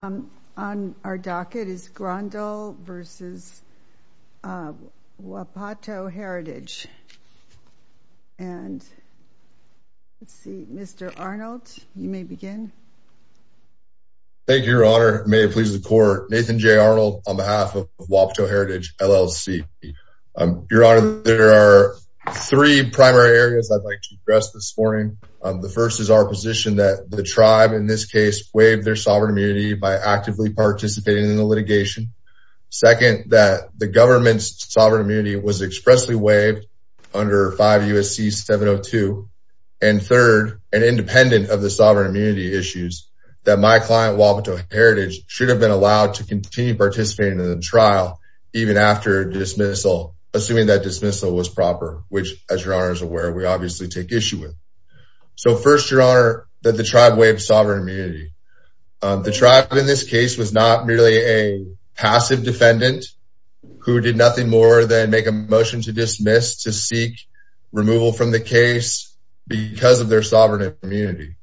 On our docket is Grondal v. Wapato Heritage. And let's see, Mr. Arnold, you may begin. Thank you, Your Honor. May it please the Court. Nathan J. Arnold on behalf of Wapato Heritage LLC. Your Honor, there are three primary areas I'd like to address this morning. The first is our waive their sovereign immunity by actively participating in the litigation. Second, that the government's sovereign immunity was expressly waived under 5 U.S.C. 702. And third, and independent of the sovereign immunity issues, that my client, Wapato Heritage, should have been allowed to continue participating in the trial even after dismissal, assuming that dismissal was proper, which, as Your Honor is aware, we obviously take issue with. So first, Your Honor, that the tribe waived sovereign immunity. The tribe in this case was not merely a passive defendant who did nothing more than make a motion to dismiss, to seek removal from the case because of their sovereign immunity.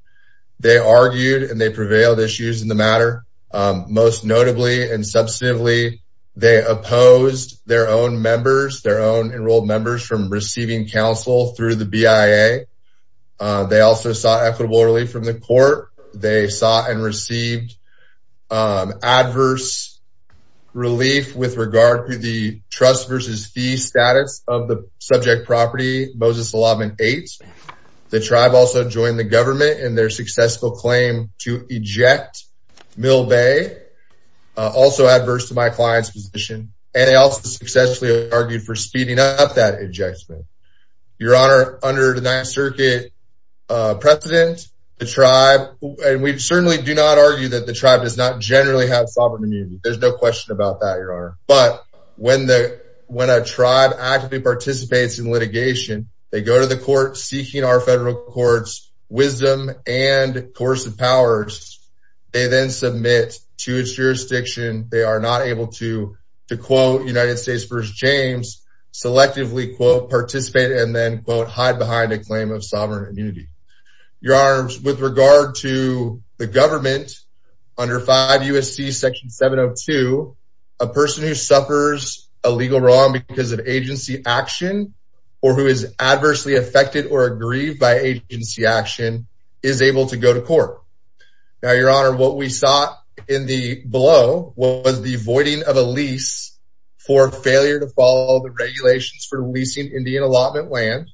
They argued and they prevailed issues in the matter. Most notably and substantively, they opposed their own members, their own members from receiving counsel through the BIA. They also sought equitable relief from the Court. They sought and received adverse relief with regard to the trust versus fee status of the subject property, Moses Allotment 8. The tribe also joined the government in their successful claim to eject Mill Bay, also adverse to my client's position. And they also successfully argued for speeding up that ejection. Your Honor, under the Ninth Circuit precedent, the tribe, and we certainly do not argue that the tribe does not generally have sovereign immunity. There's no question about that, Your Honor. But when a tribe actively participates in litigation, they go to the court seeking our federal court's wisdom and coercive powers. They then submit to its selectively, quote, participate and then, quote, hide behind a claim of sovereign immunity. Your Honors, with regard to the government under 5 U.S.C. Section 702, a person who suffers a legal wrong because of agency action or who is adversely affected or aggrieved by agency action is able to go to court. Now, Your Honor, what we saw in the below was the voiding of a lease for failure to follow the regulations for leasing Indian allotment land.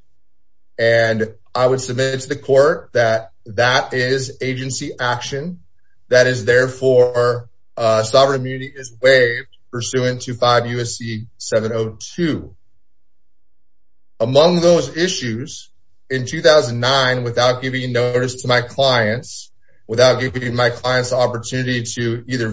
And I would submit it to the court that that is agency action. That is, therefore, sovereign immunity is waived pursuant to 5 U.S.C. 702. Among those issues, in 2009, without giving notice to my clients, without giving my clients the opportunity to either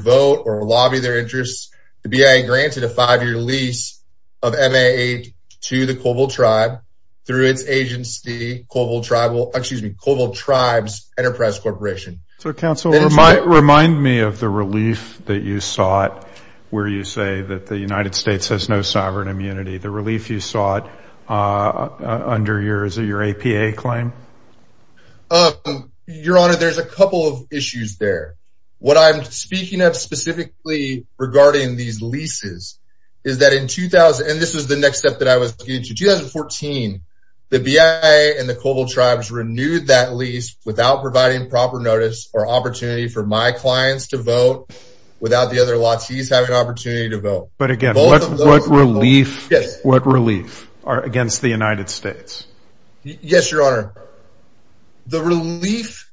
five-year lease of MA-8 to the Colville Tribe through its agency, Colville Tribal, excuse me, Colville Tribes Enterprise Corporation. So, counsel, remind me of the relief that you sought where you say that the United States has no sovereign immunity, the relief you sought under your APA claim? Your Honor, there's a couple of issues there. What I'm speaking of specifically regarding these leases is that in 2000, and this is the next step that I was getting to, 2014, the BIA and the Colville Tribes renewed that lease without providing proper notice or opportunity for my clients to vote without the other latis having an opportunity to vote. But again, what relief are against the United States? Yes, Your Honor. The relief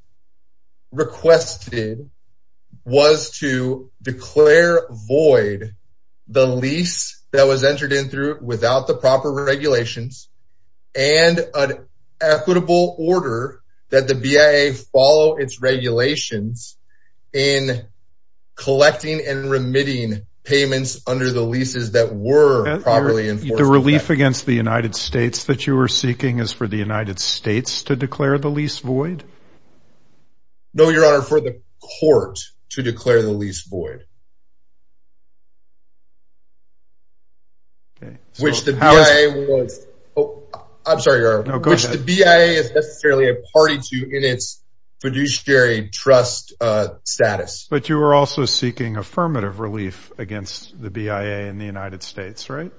requested was to declare void the lease that was entered in without the proper regulations and an equitable order that the BIA follow its regulations in collecting and remitting payments under the leases that were properly enforced. The relief against the United States that you were seeking is for the United States to declare the lease void? No, Your Honor, for the court to declare the lease void, which the BIA is necessarily a party to in its fiduciary trust status. But you were also seeking affirmative relief against the BIA and the United States, right?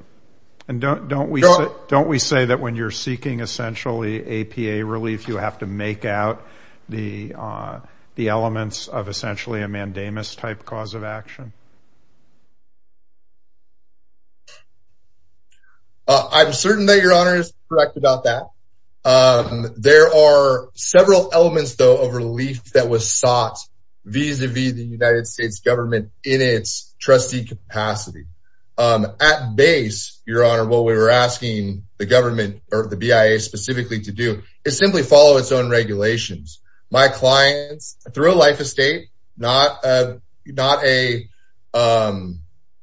And don't we say that when you're seeking essentially APA relief, you have to make out the elements of essentially a mandamus type cause of action? I'm certain that Your Honor is correct about that. There are several elements though of relief that sought vis-a-vis the United States government in its trustee capacity. At base, Your Honor, what we were asking the government or the BIA specifically to do is simply follow its own regulations. My clients through a life estate, not a,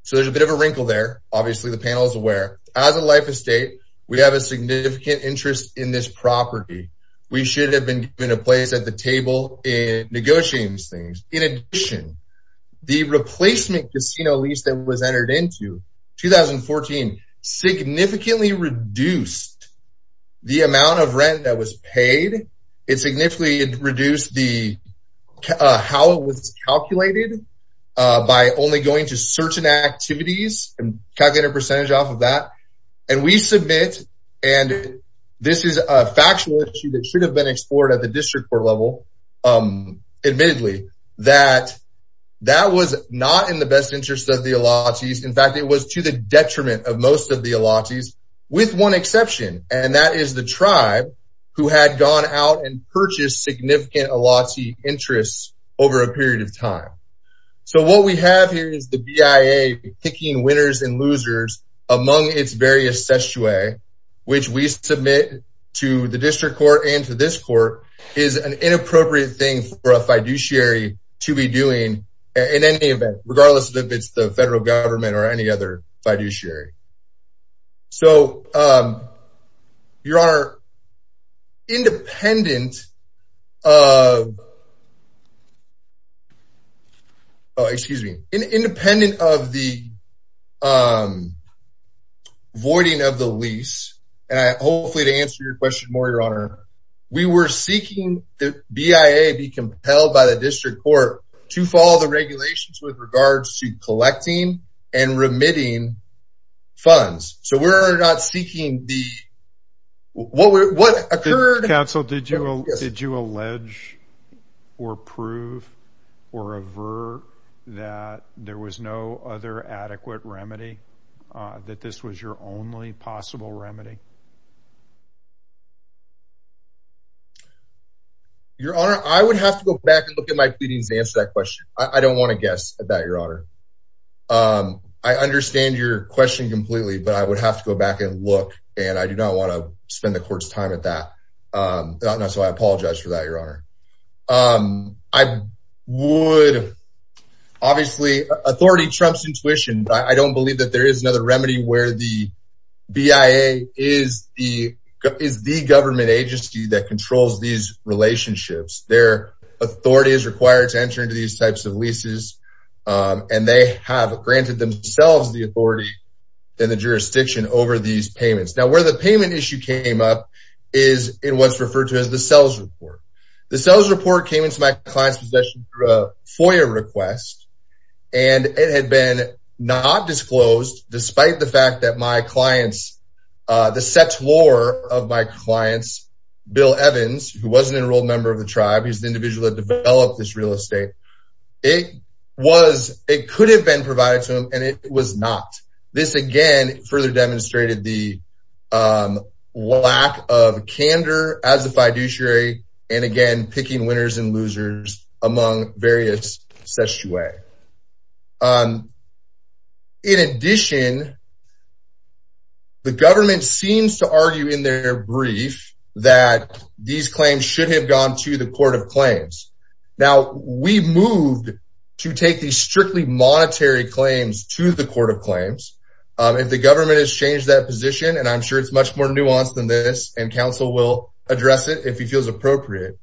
so there's a bit of a wrinkle there. Obviously the panel is aware. As a life estate, we have a significant interest in this property. We should have been given a place at the table in negotiating these things. In addition, the replacement casino lease that was entered into 2014 significantly reduced the amount of rent that was paid. It significantly reduced how it was calculated by only going to certain activities and calculated a percentage off of that. And we submit, and this is a factual issue that should have been explored at the district court level, admittedly, that that was not in the best interest of the Elatsis. In fact, it was to the detriment of most of the Elatsis with one exception, and that is the tribe who had gone out and purchased significant Elatsi interests over a period of time. So what we have here is the BIA kicking winners and losers among its various sessue, which we submit to the district court and to this court is an inappropriate thing for a fiduciary to be doing in any event, regardless of if it's the federal government or any other fiduciary. So, Your Honor, independent of the voiding of the lease, and hopefully to answer your question more, Your Honor, we were seeking the BIA be compelled by the district court to follow the regulations with regards to collecting and remitting funds. So we're not seeking the, what occurred- Counsel, did you allege or prove or avert that there was no other adequate remedy, that this was your only possible remedy? Your Honor, I would have to go back and look at my pleadings to answer that question. I don't want to guess at that, Your Honor. I understand your question completely, but I would have to go back and look, and I do not want to spend the court's time at that. So I apologize for that, Your Honor. I would, obviously, authority trumps intuition. I don't believe that there is another remedy where the BIA is the government agency that controls these relationships. Their authority is required to enter into these types of leases, and they have granted themselves the authority and the jurisdiction over these payments. Now, where the payment issue came up is in what's referred to as the SELS report. The SELS report came into my client's possession through a FOIA request, and it had been not disclosed, despite the fact that my clients, the settlor of my clients, Bill Evans, who was an enrolled member of the tribe, he's the individual that developed this real estate, it was, it could have been provided to him, and it was not. This, again, further demonstrated the lack of candor as a fiduciary, and again, picking winners and losers among various sessue. In addition, the government seems to argue in their brief that these claims should have gone to the Court of Claims. Now, we moved to take these strictly monetary claims to the Court of Claims. If the government has changed that position, and I'm sure it's much more nuanced than this, and counsel will address it if he feels appropriate,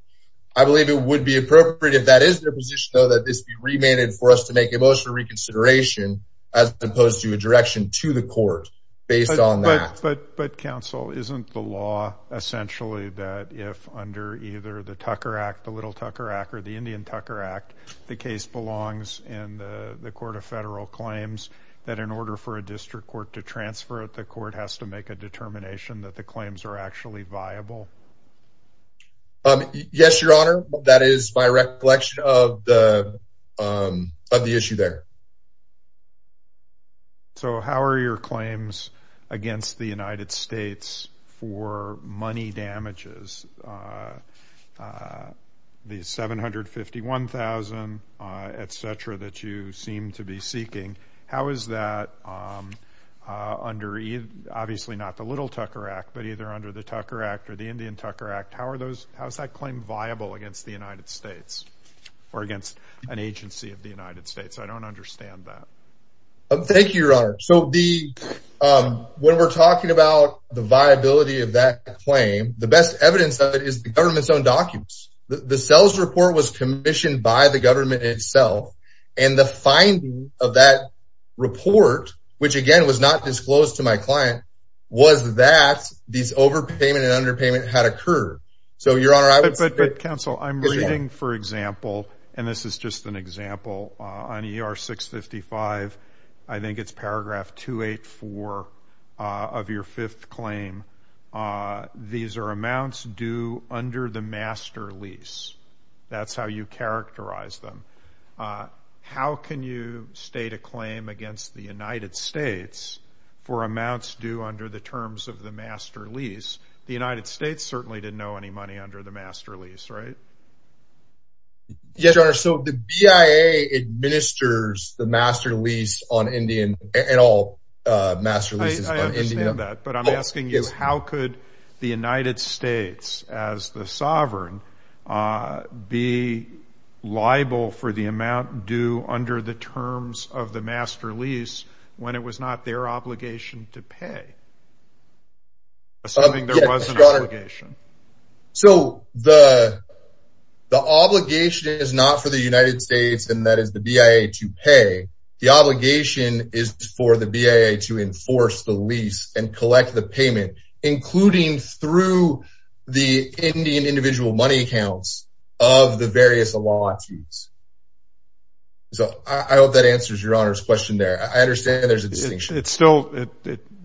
I believe it would be appropriate if this be remanded for us to make emotional reconsideration as opposed to a direction to the court based on that. But counsel, isn't the law essentially that if under either the Tucker Act, the Little Tucker Act, or the Indian Tucker Act, the case belongs in the Court of Federal Claims, that in order for a district court to transfer it, the court has to make a determination that the claims are actually viable? Yes, Your Honor. That is my recollection of the issue there. How are your claims against the United States for money damages, the $751,000, et cetera, that you seem to be seeking, how is that under either, obviously not the Little Tucker Act, but either under the Tucker Act or the Indian Tucker Act, how is that claim viable against the United States or against an agency of the United States? I don't understand that. Thank you, Your Honor. So, when we're talking about the viability of that claim, the best evidence of it is the government's own documents. The sales report was commissioned by the government itself, and the finding of that report, which again, was not disclosed to my client, was that these overpayment and underpayment had occurred. So, Your Honor, I would say- But counsel, I'm reading, for example, and this is just an example, on ER 655, I think it's paragraph 284 of your fifth claim, these are amounts due under the master lease. That's how you characterize them. How can you state a claim against the United States for amounts due under the terms of the master lease? The United States certainly didn't know any money under the master lease, right? Yes, Your Honor. So, the BIA administers the master lease on Indian, and all master leases- But I'm asking you, how could the United States, as the sovereign, be liable for the amount due under the terms of the master lease when it was not their obligation to pay? Assuming there was an obligation. So, the obligation is not for the United States, and that is the BIA to pay. The obligation is for the BIA to enforce the lease and collect the payment, including through the Indian individual money accounts of the various allotments. So, I hope that answers Your Honor's question there. I understand there's a distinction. It's still-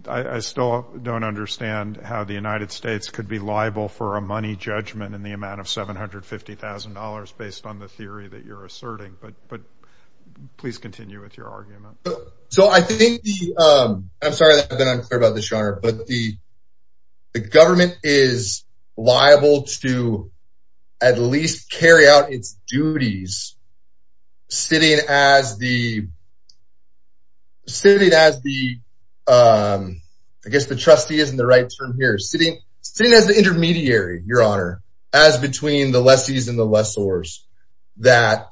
I still don't understand how the United States could be liable for a money judgment in the amount of $750,000, based on the theory that you're asserting. But please continue with your argument. So, I think the- I'm sorry that I've been unclear about this, Your Honor, but the government is liable to at least carry out its duties sitting as the- sitting as the- I guess the trustee isn't the right term here. Sitting as the intermediary, Your Honor, as between the lessees and the lessors, that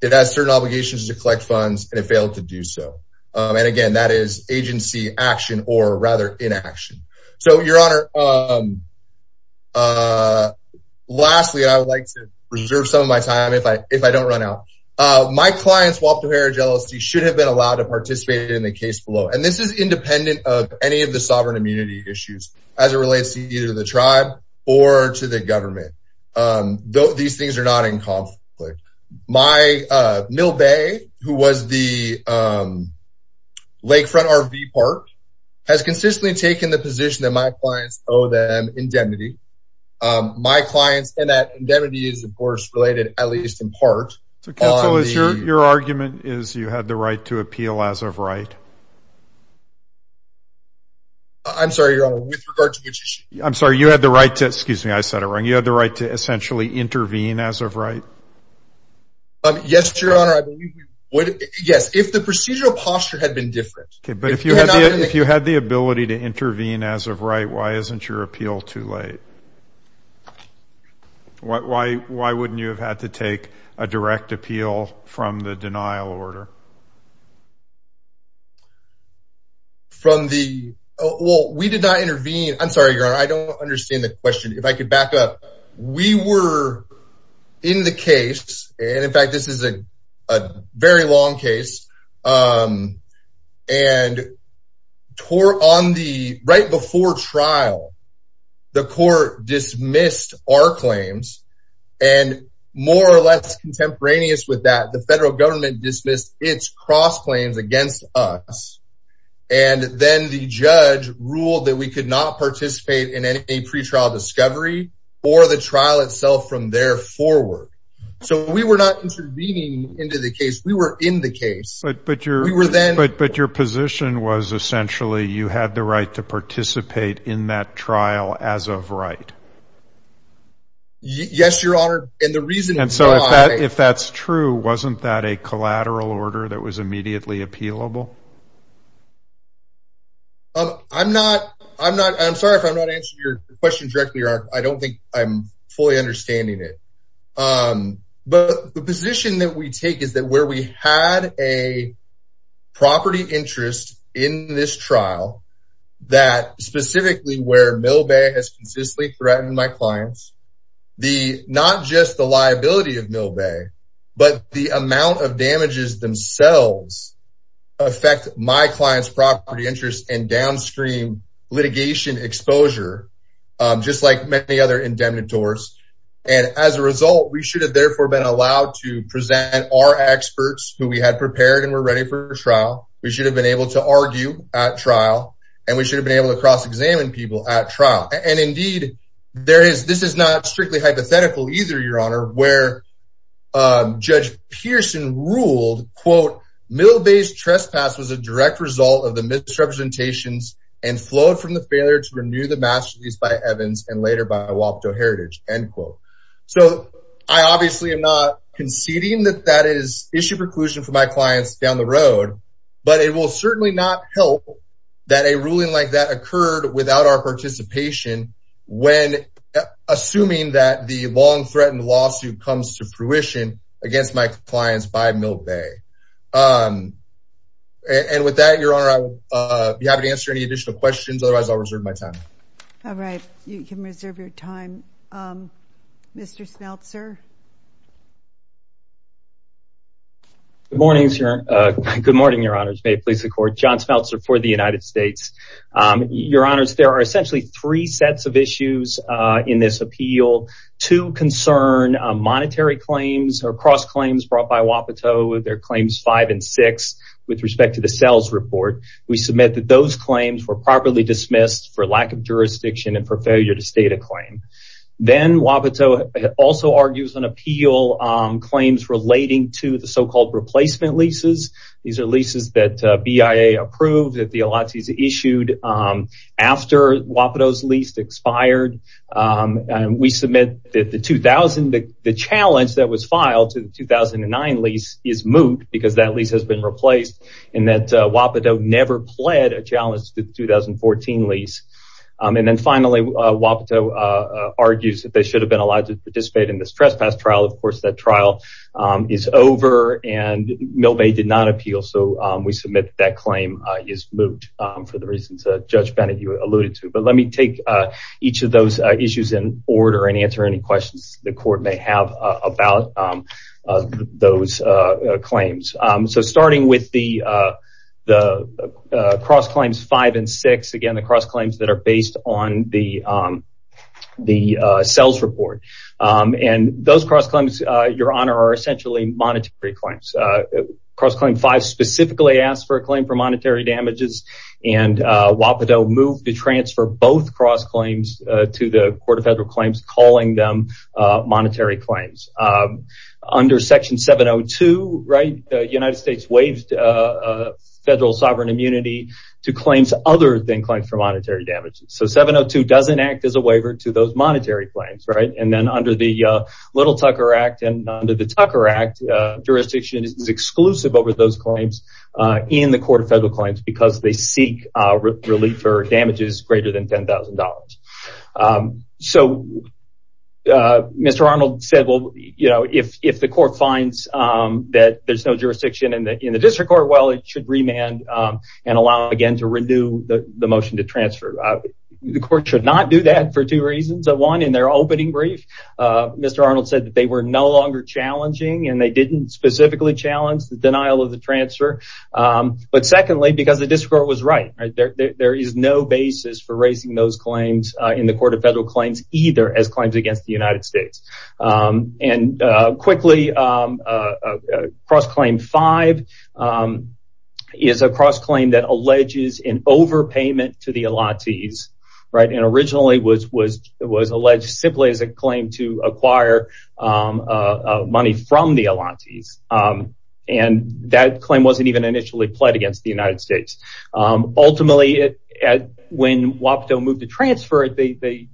it has certain obligations to collect funds, and it failed to do so. And again, that is agency action, or rather inaction. So, Your Honor, lastly, I would like to reserve some of my time if I don't run out. My clients, WAPT, O'Hara, and GLSD should have been allowed to participate in the case below. And this is independent of any of the sovereign immunity issues, as it relates to either the tribe or to the government. These things are not in conflict. My- Mill Bay, who was the lakefront RV park, has consistently taken the position that my clients owe them indemnity. My clients- and that indemnity is, of course, related at least in part- I'm sorry, Your Honor, with regard to which issue? I'm sorry, you had the right to- excuse me, I said it wrong. You had the right to essentially intervene as of right? Yes, Your Honor, I believe you would- yes, if the procedural posture had been different. Okay, but if you had the ability to intervene as of right, why isn't your appeal too late? Why wouldn't you have had to take a direct appeal from the denial order? From the- well, we did not intervene- I'm sorry, Your Honor, I don't understand the question. If I could back up, we were in the case, and in fact, this is a very long case, and on the- right before trial, the court dismissed our claims, and more or less contemporaneous with that, the federal government dismissed its cross claims against us, and then the judge ruled that we could not participate in any pretrial discovery or the trial itself from there forward. So, we were not intervening into the case, we were in the case. But your position was essentially, you had the right to participate in that trial as of right? Yes, Your Honor, and the reason- So, if that's true, wasn't that a collateral order that was immediately appealable? I'm not- I'm sorry if I'm not answering your question directly, Your Honor, I don't think I'm fully understanding it. But the position that we take is that where we had a property interest in this trial, that specifically where Mill Bay has consistently threatened my clients, the- not just the liability of Mill Bay, but the amount of damages themselves affect my client's property interest and downstream litigation exposure, just like many other indemnitores. And as a result, we should have therefore been allowed to present our experts who we had prepared and were ready for trial, we should have been able to argue at trial, and we should have been able to cross-examine people at trial. And indeed, there is- this is not strictly hypothetical either, Your Honor, where Judge Pearson ruled, quote, Mill Bay's trespass was a direct result of the misrepresentations and flowed from the failure to renew the master's lease by Evans and later by Wapato Heritage, end quote. So, I obviously am not conceding that that is issue preclusion for my clients down the road, but it will certainly not help that a ruling like that occurred without our participation when assuming that the long-threatened lawsuit comes to fruition against my clients by Mill Bay. And with that, Your Honor, I'll be happy to answer any additional questions. Otherwise, I'll reserve my time. All right. You can reserve your time. Mr. Smeltzer? Good morning, Your Honor. Good morning, Your Honors. May it please the Court. John Smeltzer for the United States. Your Honors, there are essentially three sets of issues in this appeal. Two concern monetary claims or cross-claims brought by Wapato. They're claims five and six with respect to the sales report. We submit that those claims were properly dismissed for lack of jurisdiction and for failure to state a claim. Then, Wapato also argues on the basis of the appeal claims relating to the so-called replacement leases. These are leases that BIA approved that the Alatsis issued after Wapato's lease expired. We submit that the challenge that was filed to the 2009 lease is moot because that lease has been replaced and that Wapato never pled a challenge to the 2014 lease. And then finally, Wapato argues that they should have been allowed to participate in this trespass trial. Of course, that trial is over and Milvay did not appeal, so we submit that claim is moot for the reasons that Judge Bennett alluded to. But let me take each of those issues in order and answer any questions the Court may have about those claims. So starting with the cross-claims five and six, again, the cross-claims are based on the sales report. And those cross-claims, Your Honor, are essentially monetary claims. Cross-claim five specifically asks for a claim for monetary damages and Wapato moved to transfer both cross-claims to the Court of Federal Claims, calling them monetary claims. Under Section 702, the United States waived federal sovereign immunity to claims other than monetary damages. So 702 doesn't act as a waiver to those monetary claims. And then under the Little Tucker Act and under the Tucker Act, jurisdiction is exclusive over those claims in the Court of Federal Claims because they seek relief for damages greater than $10,000. So Mr. Arnold said, if the Court finds that there's no jurisdiction in the district court, it should remand and allow again to renew the motion to transfer. The Court should not do that for two reasons. One, in their opening brief, Mr. Arnold said that they were no longer challenging and they didn't specifically challenge the denial of the transfer. But secondly, because the district court was right. There is no basis for raising those claims in the Court of Federal Claims as claims against the United States. And quickly, cross-claim five is a cross-claim that alleges an overpayment to the Elatis. And originally, it was alleged simply as a claim to acquire money from the Elatis. And that claim wasn't even initially pled against the United States. Ultimately, when WAPTO moved to transfer it, they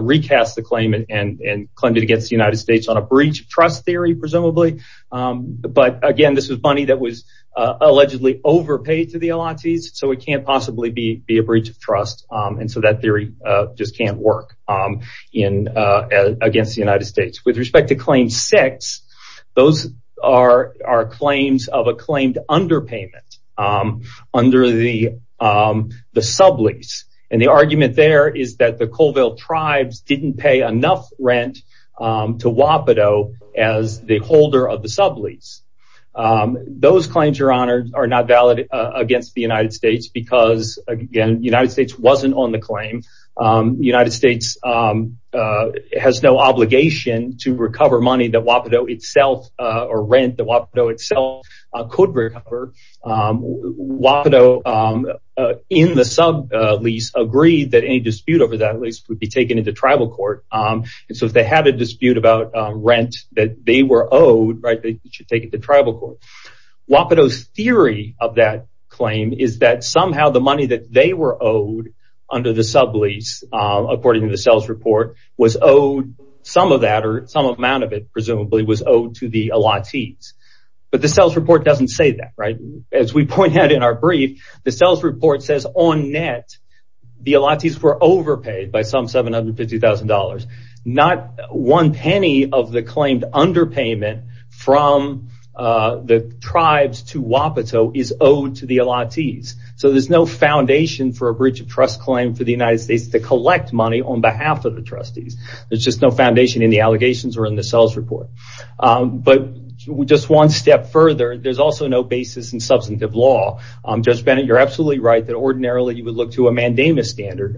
recast the claim and claimed it against the United States on a breach of trust theory, presumably. But again, this was money that was allegedly overpaid to the Elatis. So it can't possibly be a breach of trust. And so that theory just can't work against the United States. With respect to claim six, those are claims of a claimed underpayment under the sublease. And the argument there is that the Colville tribes didn't pay enough rent to WAPTO as the holder of the sublease. Those claims, Your Honor, are not valid against the United States because again, the United States wasn't on the claim. The United States could recover. WAPTO, in the sublease, agreed that any dispute over that lease would be taken into tribal court. And so if they had a dispute about rent that they were owed, they should take it to tribal court. WAPTO's theory of that claim is that somehow the money that they were owed under the sublease, according to the sales report, was owed some of that or some of that. As we point out in our brief, the sales report says on net, the Elatis were overpaid by some $750,000. Not one penny of the claimed underpayment from the tribes to WAPTO is owed to the Elatis. So there's no foundation for a breach of trust claim for the United States to collect money on behalf of the trustees. There's just no foundation in the allegations or in the basis in substantive law. Judge Bennett, you're absolutely right that ordinarily you would look to a mandamus standard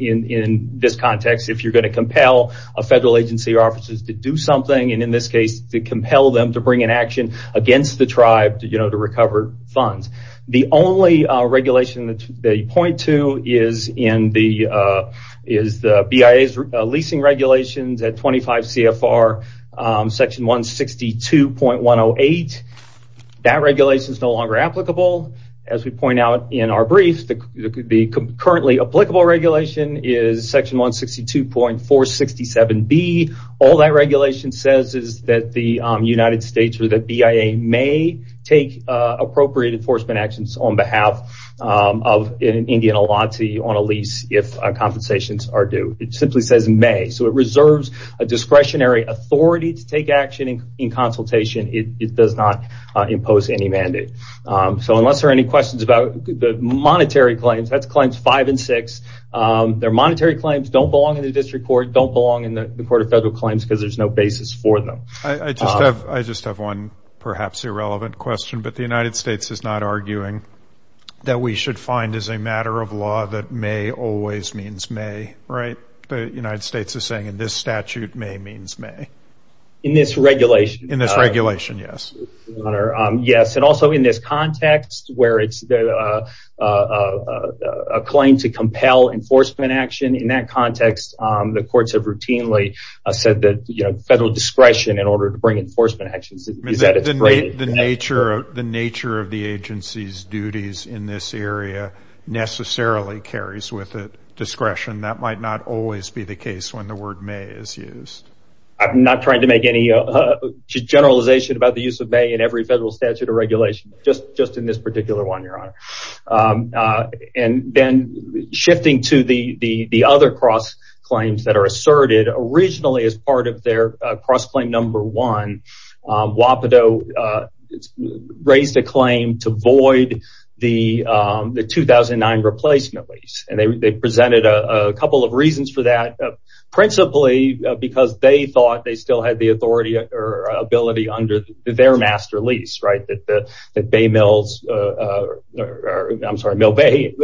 in this context if you're going to compel a federal agency or officers to do something. And in this case, to compel them to bring an action against the tribe to recover funds. The only regulation that you point to is the BIA's leasing regulations at 25 CFR section 162.108. That regulation is no longer applicable. As we point out in our brief, the currently applicable regulation is section 162.467B. All that regulation says is that the United States or the BIA may take appropriate enforcement actions on behalf of an Indian Elati on a lease if compensations are due. It simply says may. So it reserves a discretionary authority to take action in consultation. It does not impose any mandate. So unless there are any questions about the monetary claims, that's claims five and six. They're monetary claims, don't belong in the district court, don't belong in the court of federal claims because there's no basis for them. I just have one perhaps irrelevant question, but the United States is not arguing that we should find as a matter of law that may always means may, right? The in this regulation, yes. And also in this context where it's a claim to compel enforcement action, in that context, the courts have routinely said that federal discretion in order to bring enforcement actions. The nature of the agency's duties in this area necessarily carries with it discretion. That might not always be the case when the word may is used. I'm not trying to make any generalization about the use of may in every federal statute of regulation, just in this particular one, your honor. And then shifting to the other cross claims that are asserted originally as part of their cross-claim number one, Wapato raised a claim to void the 2009 replacement lease. And they presented a couple of reasons for that, principally because they thought they still had the authority or ability under their master lease, right? That the Bay Mills, I'm sorry, Mill Bay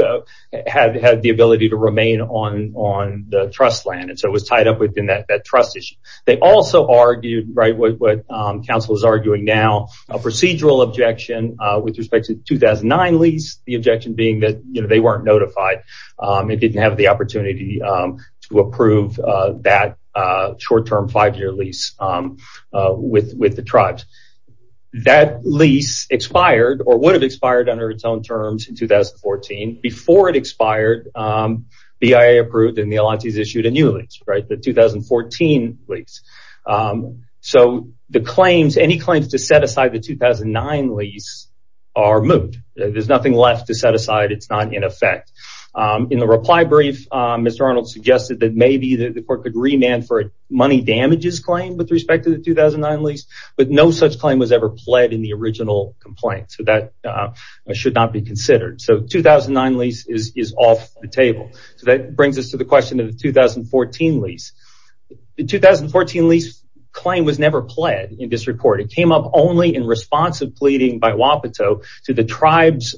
had the ability to remain on the trust land. And so it was tied up within that trust issue. They also argued, right, what counsel is arguing now, a procedural objection with respect to 2009 lease, the objection being that they weren't notified. It didn't have the opportunity to approve that short-term five-year lease with the tribes. That lease expired or would have expired under its own terms in 2014. Before it expired, BIA approved and the Elantes issued a new lease, right, the 2014 lease. So the claims, any claims to set aside the 2009 lease are moved. There's nothing left to set aside. It's not in effect. In the reply brief, Mr. Arnold suggested that maybe the court could remand for a money damages claim with respect to the 2009 lease, but no such claim was ever pled in the original complaint. So that should not be considered. So 2009 lease is off the table. So that brings us to the question only in response of pleading by Wapato to the tribe's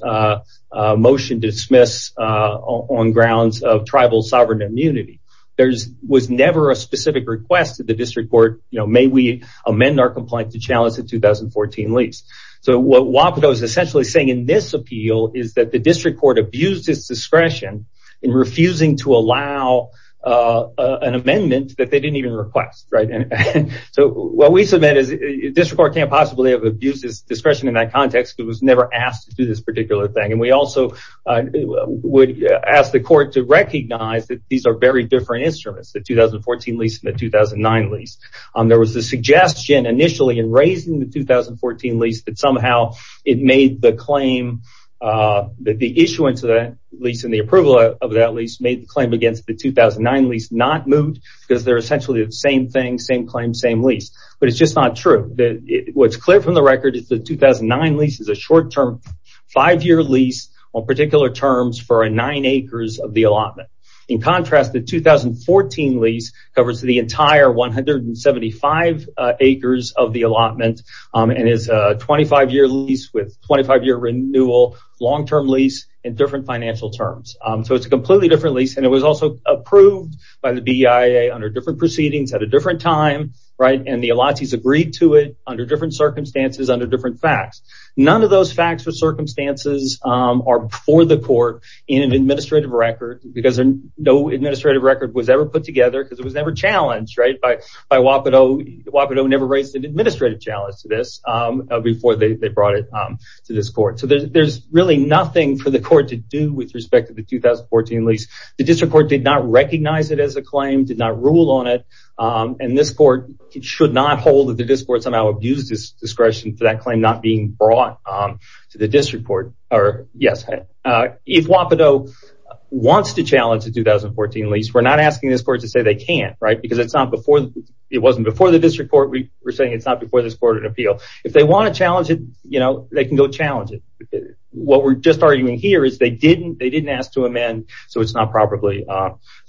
motion dismiss on grounds of tribal sovereign immunity. There was never a specific request to the district court, you know, may we amend our complaint to challenge the 2014 lease. So what Wapato is essentially saying in this appeal is that the district court abused its discretion in refusing to allow an amendment that they didn't even request, right? And so what we submit is district court can't possibly have abused its discretion in that context because it was never asked to do this particular thing. And we also would ask the court to recognize that these are very different instruments, the 2014 lease and the 2009 lease. There was the suggestion initially in raising the 2014 lease that somehow it made the claim that the issuance of that lease and the approval of that made the claim against the 2009 lease not moved because they're essentially the same thing, same claim, same lease. But it's just not true. What's clear from the record is the 2009 lease is a short-term five-year lease on particular terms for nine acres of the allotment. In contrast, the 2014 lease covers the entire 175 acres of the allotment and is a 25-year lease with 25-year lease. And it was also approved by the BIA under different proceedings at a different time, right? And the allottees agreed to it under different circumstances, under different facts. None of those facts or circumstances are before the court in an administrative record because no administrative record was ever put together because it was never challenged, right? Wapato never raised an administrative challenge to this before they brought it to this court. So the district court did not recognize it as a claim, did not rule on it, and this court should not hold that the district court somehow abused its discretion for that claim not being brought to the district court. If Wapato wants to challenge the 2014 lease, we're not asking this court to say they can't, right? Because it wasn't before the district court. We're saying it's not before this court of appeal. If they want to challenge it, they can go challenge it. What we're just arguing here is they didn't ask to amend, so it's not probably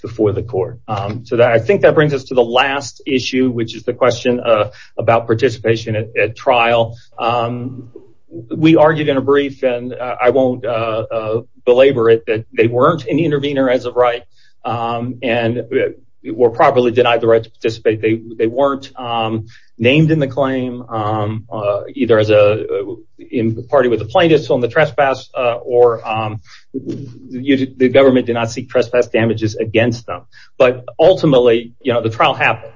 before the court. So I think that brings us to the last issue, which is the question about participation at trial. We argued in a brief, and I won't belabor it, that they weren't an intervener as of right and were properly denied the right to participate. They weren't named in the claim, either as a party with a plaintiff on the trespass or the government did not seek trespass damages against them. But ultimately, the trial happened.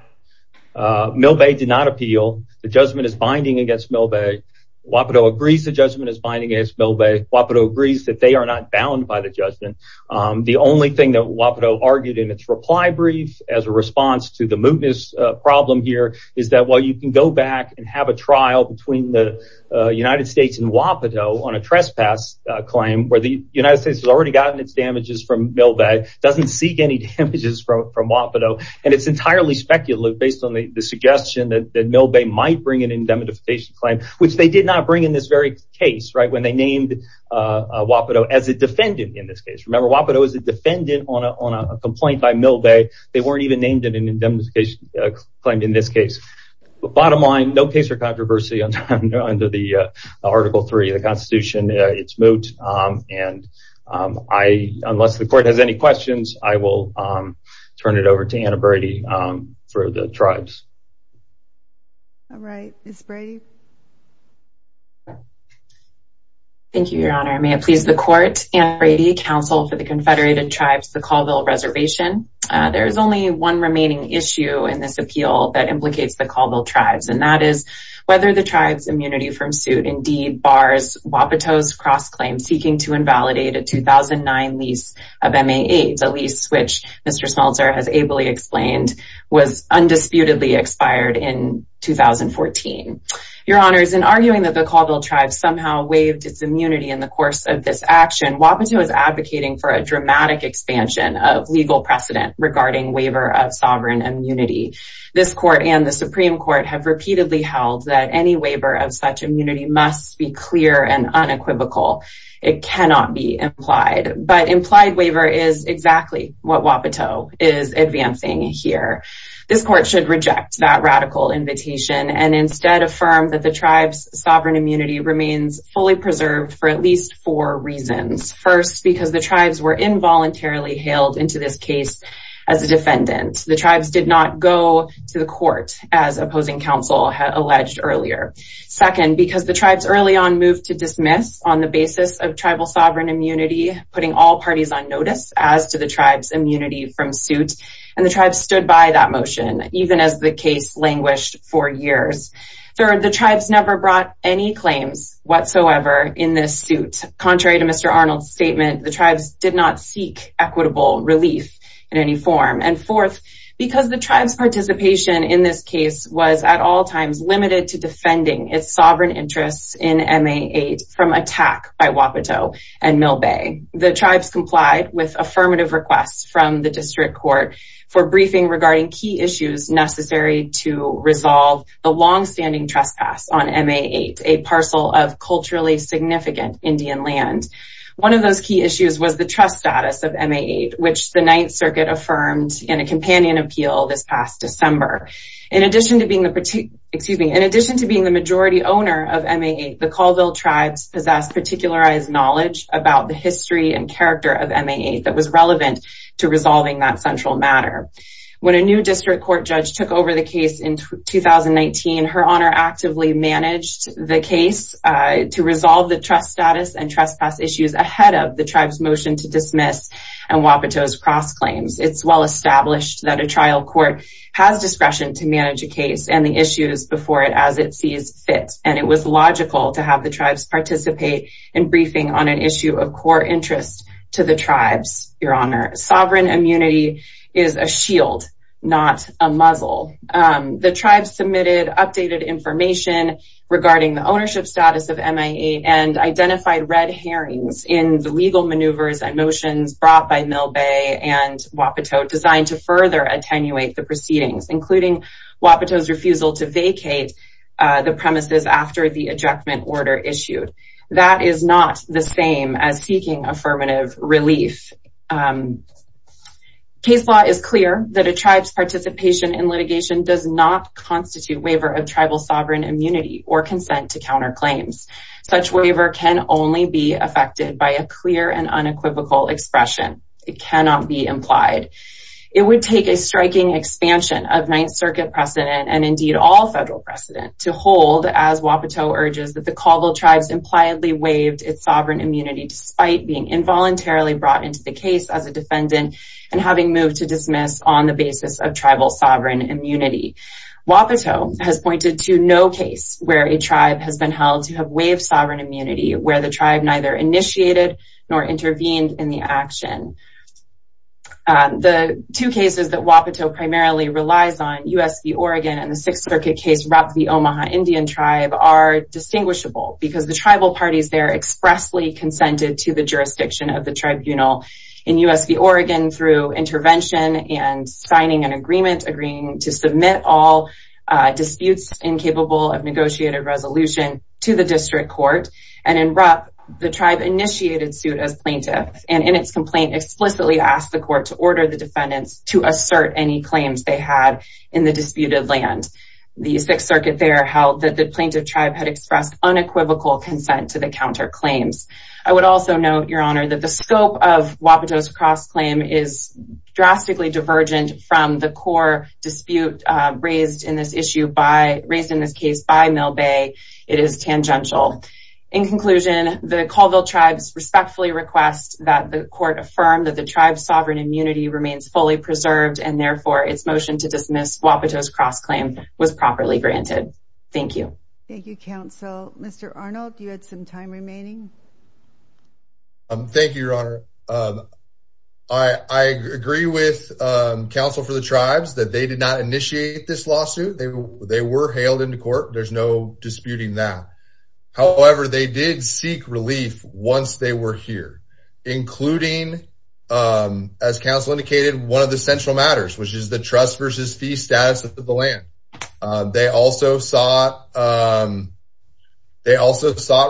Milbay did not appeal. The judgment is binding against Milbay. Wapato agrees the judgment is binding against Milbay. Wapato agrees that they are not bound by the judgment. The only thing that Wapato argued in its reply brief as a response to the mootness problem here is that while you can go back and have a trial between the United States and Wapato on a trespass claim where the United States has already gotten its damages from Milbay, doesn't seek any damages from Wapato, and it's entirely speculative based on the suggestion that Milbay might bring an indemnification claim, which they did not bring in this very case when they named Wapato as a defendant in this case. Remember, Wapato is a defendant on a complaint by Milbay. They weren't even named in an indemnification claim in this case. Bottom line, no case for controversy under the Article III of the Constitution. It's moot. Unless the court has any questions, I will turn it over to Anna Brady for the tribes. All right, Ms. Brady. Thank you, Your Honor. May it please the court, Anna Brady, counsel for the Confederated Tribes, the Colville Reservation. There is only one remaining issue in this appeal that implicates the Colville Tribes, and that is whether the tribes' immunity from suit indeed bars Wapato's cross-claim seeking to invalidate a 2009 lease of MA-8, the lease which Mr. Smeltzer has ably explained was undisputedly expired in 2014. Your Honors, in arguing that the Colville Tribes somehow waived its immunity in the course of this action, Wapato is advocating for a dramatic expansion of legal precedent regarding waiver of sovereign immunity. This court and the Supreme Court have repeatedly held that any waiver of such immunity must be clear and unequivocal. It cannot be implied, but implied waiver is exactly what Wapato is advancing here. This court should reject that radical invitation and instead affirm that the tribes' sovereign immunity remains fully preserved for at least four reasons. First, because the tribes were involuntarily hailed into this case as a defendant. The tribes did not go to the court as opposing counsel had alleged earlier. Second, because the tribes early on moved to dismiss on the basis of tribal sovereign immunity, putting all parties on notice as to the tribes' immunity from suit, and the tribes stood by that motion, even as the case languished for years. Third, the tribes never brought any claims whatsoever in this suit. Contrary to Mr. Arnold's statement, the tribes did not seek equitable relief in any form. And fourth, because the tribes' participation in this case was at all times limited to defending its sovereign interests in MA-8 from attack by Wapato and Milbay, the tribes complied with affirmative requests from the district court for briefing regarding key issues necessary to resolve the long-standing trespass on MA-8, a parcel of culturally significant Indian land. One of those key issues was the trust status of MA-8, which the Ninth Circuit affirmed in a companion appeal this past December. In addition to being the particular, excuse me, in addition to being the majority owner of MA-8, the Colville tribes possess particularized knowledge about the history and character of MA-8 that was relevant to resolving that central matter. When a new district court judge took over the case in 2019, Her Honor actively managed the case to resolve the trust status and trespass issues ahead of the tribes' motion to dismiss and Wapato's cross claims. It's well established that a trial court has discretion to manage a case and the issues before it as it sees fit, and it was logical to have the tribes participate in briefing on an issue of core interest to the sovereign immunity is a shield, not a muzzle. The tribes submitted updated information regarding the ownership status of MA-8 and identified red herrings in the legal maneuvers and motions brought by Mill Bay and Wapato designed to further attenuate the proceedings, including Wapato's refusal to vacate the premises after the ejectment order issued. That is not the same as seeking affirmative relief. Case law is clear that a tribe's participation in litigation does not constitute waiver of tribal sovereign immunity or consent to counter claims. Such waiver can only be affected by a clear and unequivocal expression. It cannot be implied. It would take a striking expansion of Ninth Circuit precedent and indeed all federal precedent to hold as Wapato urges that the Colville tribes impliedly waived its sovereign immunity despite being involuntarily brought into the case as a defendant and having moved to dismiss on the basis of tribal sovereign immunity. Wapato has pointed to no case where a tribe has been held to have waived sovereign immunity where the tribe neither initiated nor intervened in the action. The two cases that Wapato primarily relies on, U.S. v. Oregon and Sixth Circuit case Rupp v. Omaha Indian tribe are distinguishable because the tribal parties there expressly consented to the jurisdiction of the tribunal. In U.S. v. Oregon through intervention and signing an agreement agreeing to submit all disputes incapable of negotiated resolution to the district court and in Rupp the tribe initiated suit as plaintiff and in its complaint explicitly asked the court to order the defendants to assert any claims they had in disputed land. The Sixth Circuit there held that the plaintiff tribe had expressed unequivocal consent to the counterclaims. I would also note, your honor, that the scope of Wapato's cross claim is drastically divergent from the core dispute raised in this case by Mill Bay. It is tangential. In conclusion, the Colville tribes respectfully request that the court affirm that the tribe's Wapato's cross claim was properly granted. Thank you. Thank you, counsel. Mr. Arnold, you had some time remaining. Thank you, your honor. I agree with counsel for the tribes that they did not initiate this lawsuit. They were hailed into court. There's no disputing that. However, they did seek relief once they were here, including, as counsel indicated, one of the central matters, which is the trust versus fee status of the land. They also sought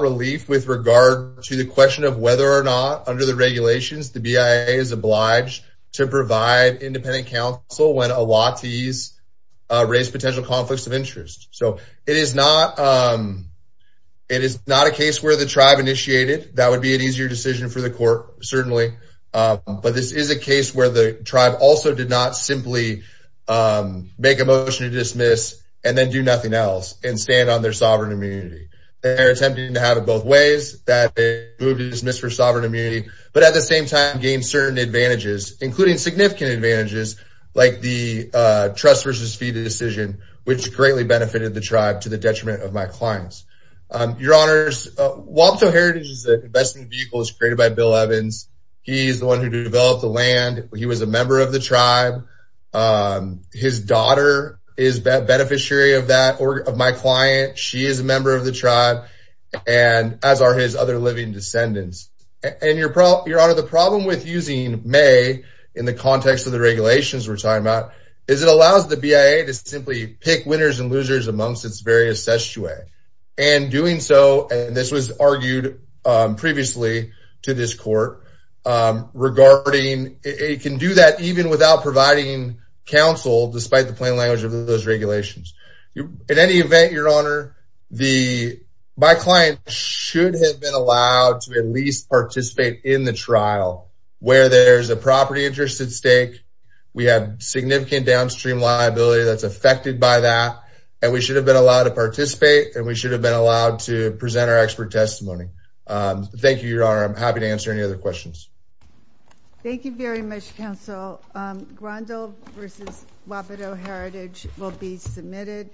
relief with regard to the question of whether or not, under the regulations, the BIA is obliged to provide independent counsel when a lot of these raise potential conflicts of interest. It is not a case where the tribe initiated. That would be an easier decision for the court, certainly. But this is a case where the tribe also did not simply make a motion to dismiss and then do nothing else and stand on their sovereign immunity. They're attempting to have it both ways, that they move to dismiss for sovereign immunity, but at the same time gain certain advantages, including significant advantages, like the trust versus fee decision, which greatly benefited the tribe to the detriment of my clients. Your honors, Wapato Heritage's investment vehicle was created by Bill Evans. He's the one who developed the land. He was a member of the tribe. His daughter is a beneficiary of my client. She is a member of the tribe, as are his other living descendants. Your honor, the problem with using May in the context of the regulations we're talking about is it allows the BIA to simply pick winners and losers amongst its constituents. This was argued previously to this court. It can do that even without providing counsel, despite the plain language of those regulations. In any event, your honor, my client should have been allowed to at least participate in the trial where there's a property interest at stake. We have significant downstream liability that's affected by that, and we should have been allowed to participate, and we should have been allowed to present our expert testimony. Thank you, your honor. I'm happy to answer any other questions. Thank you very much, counsel. Grandel versus Wapato Heritage will be submitted.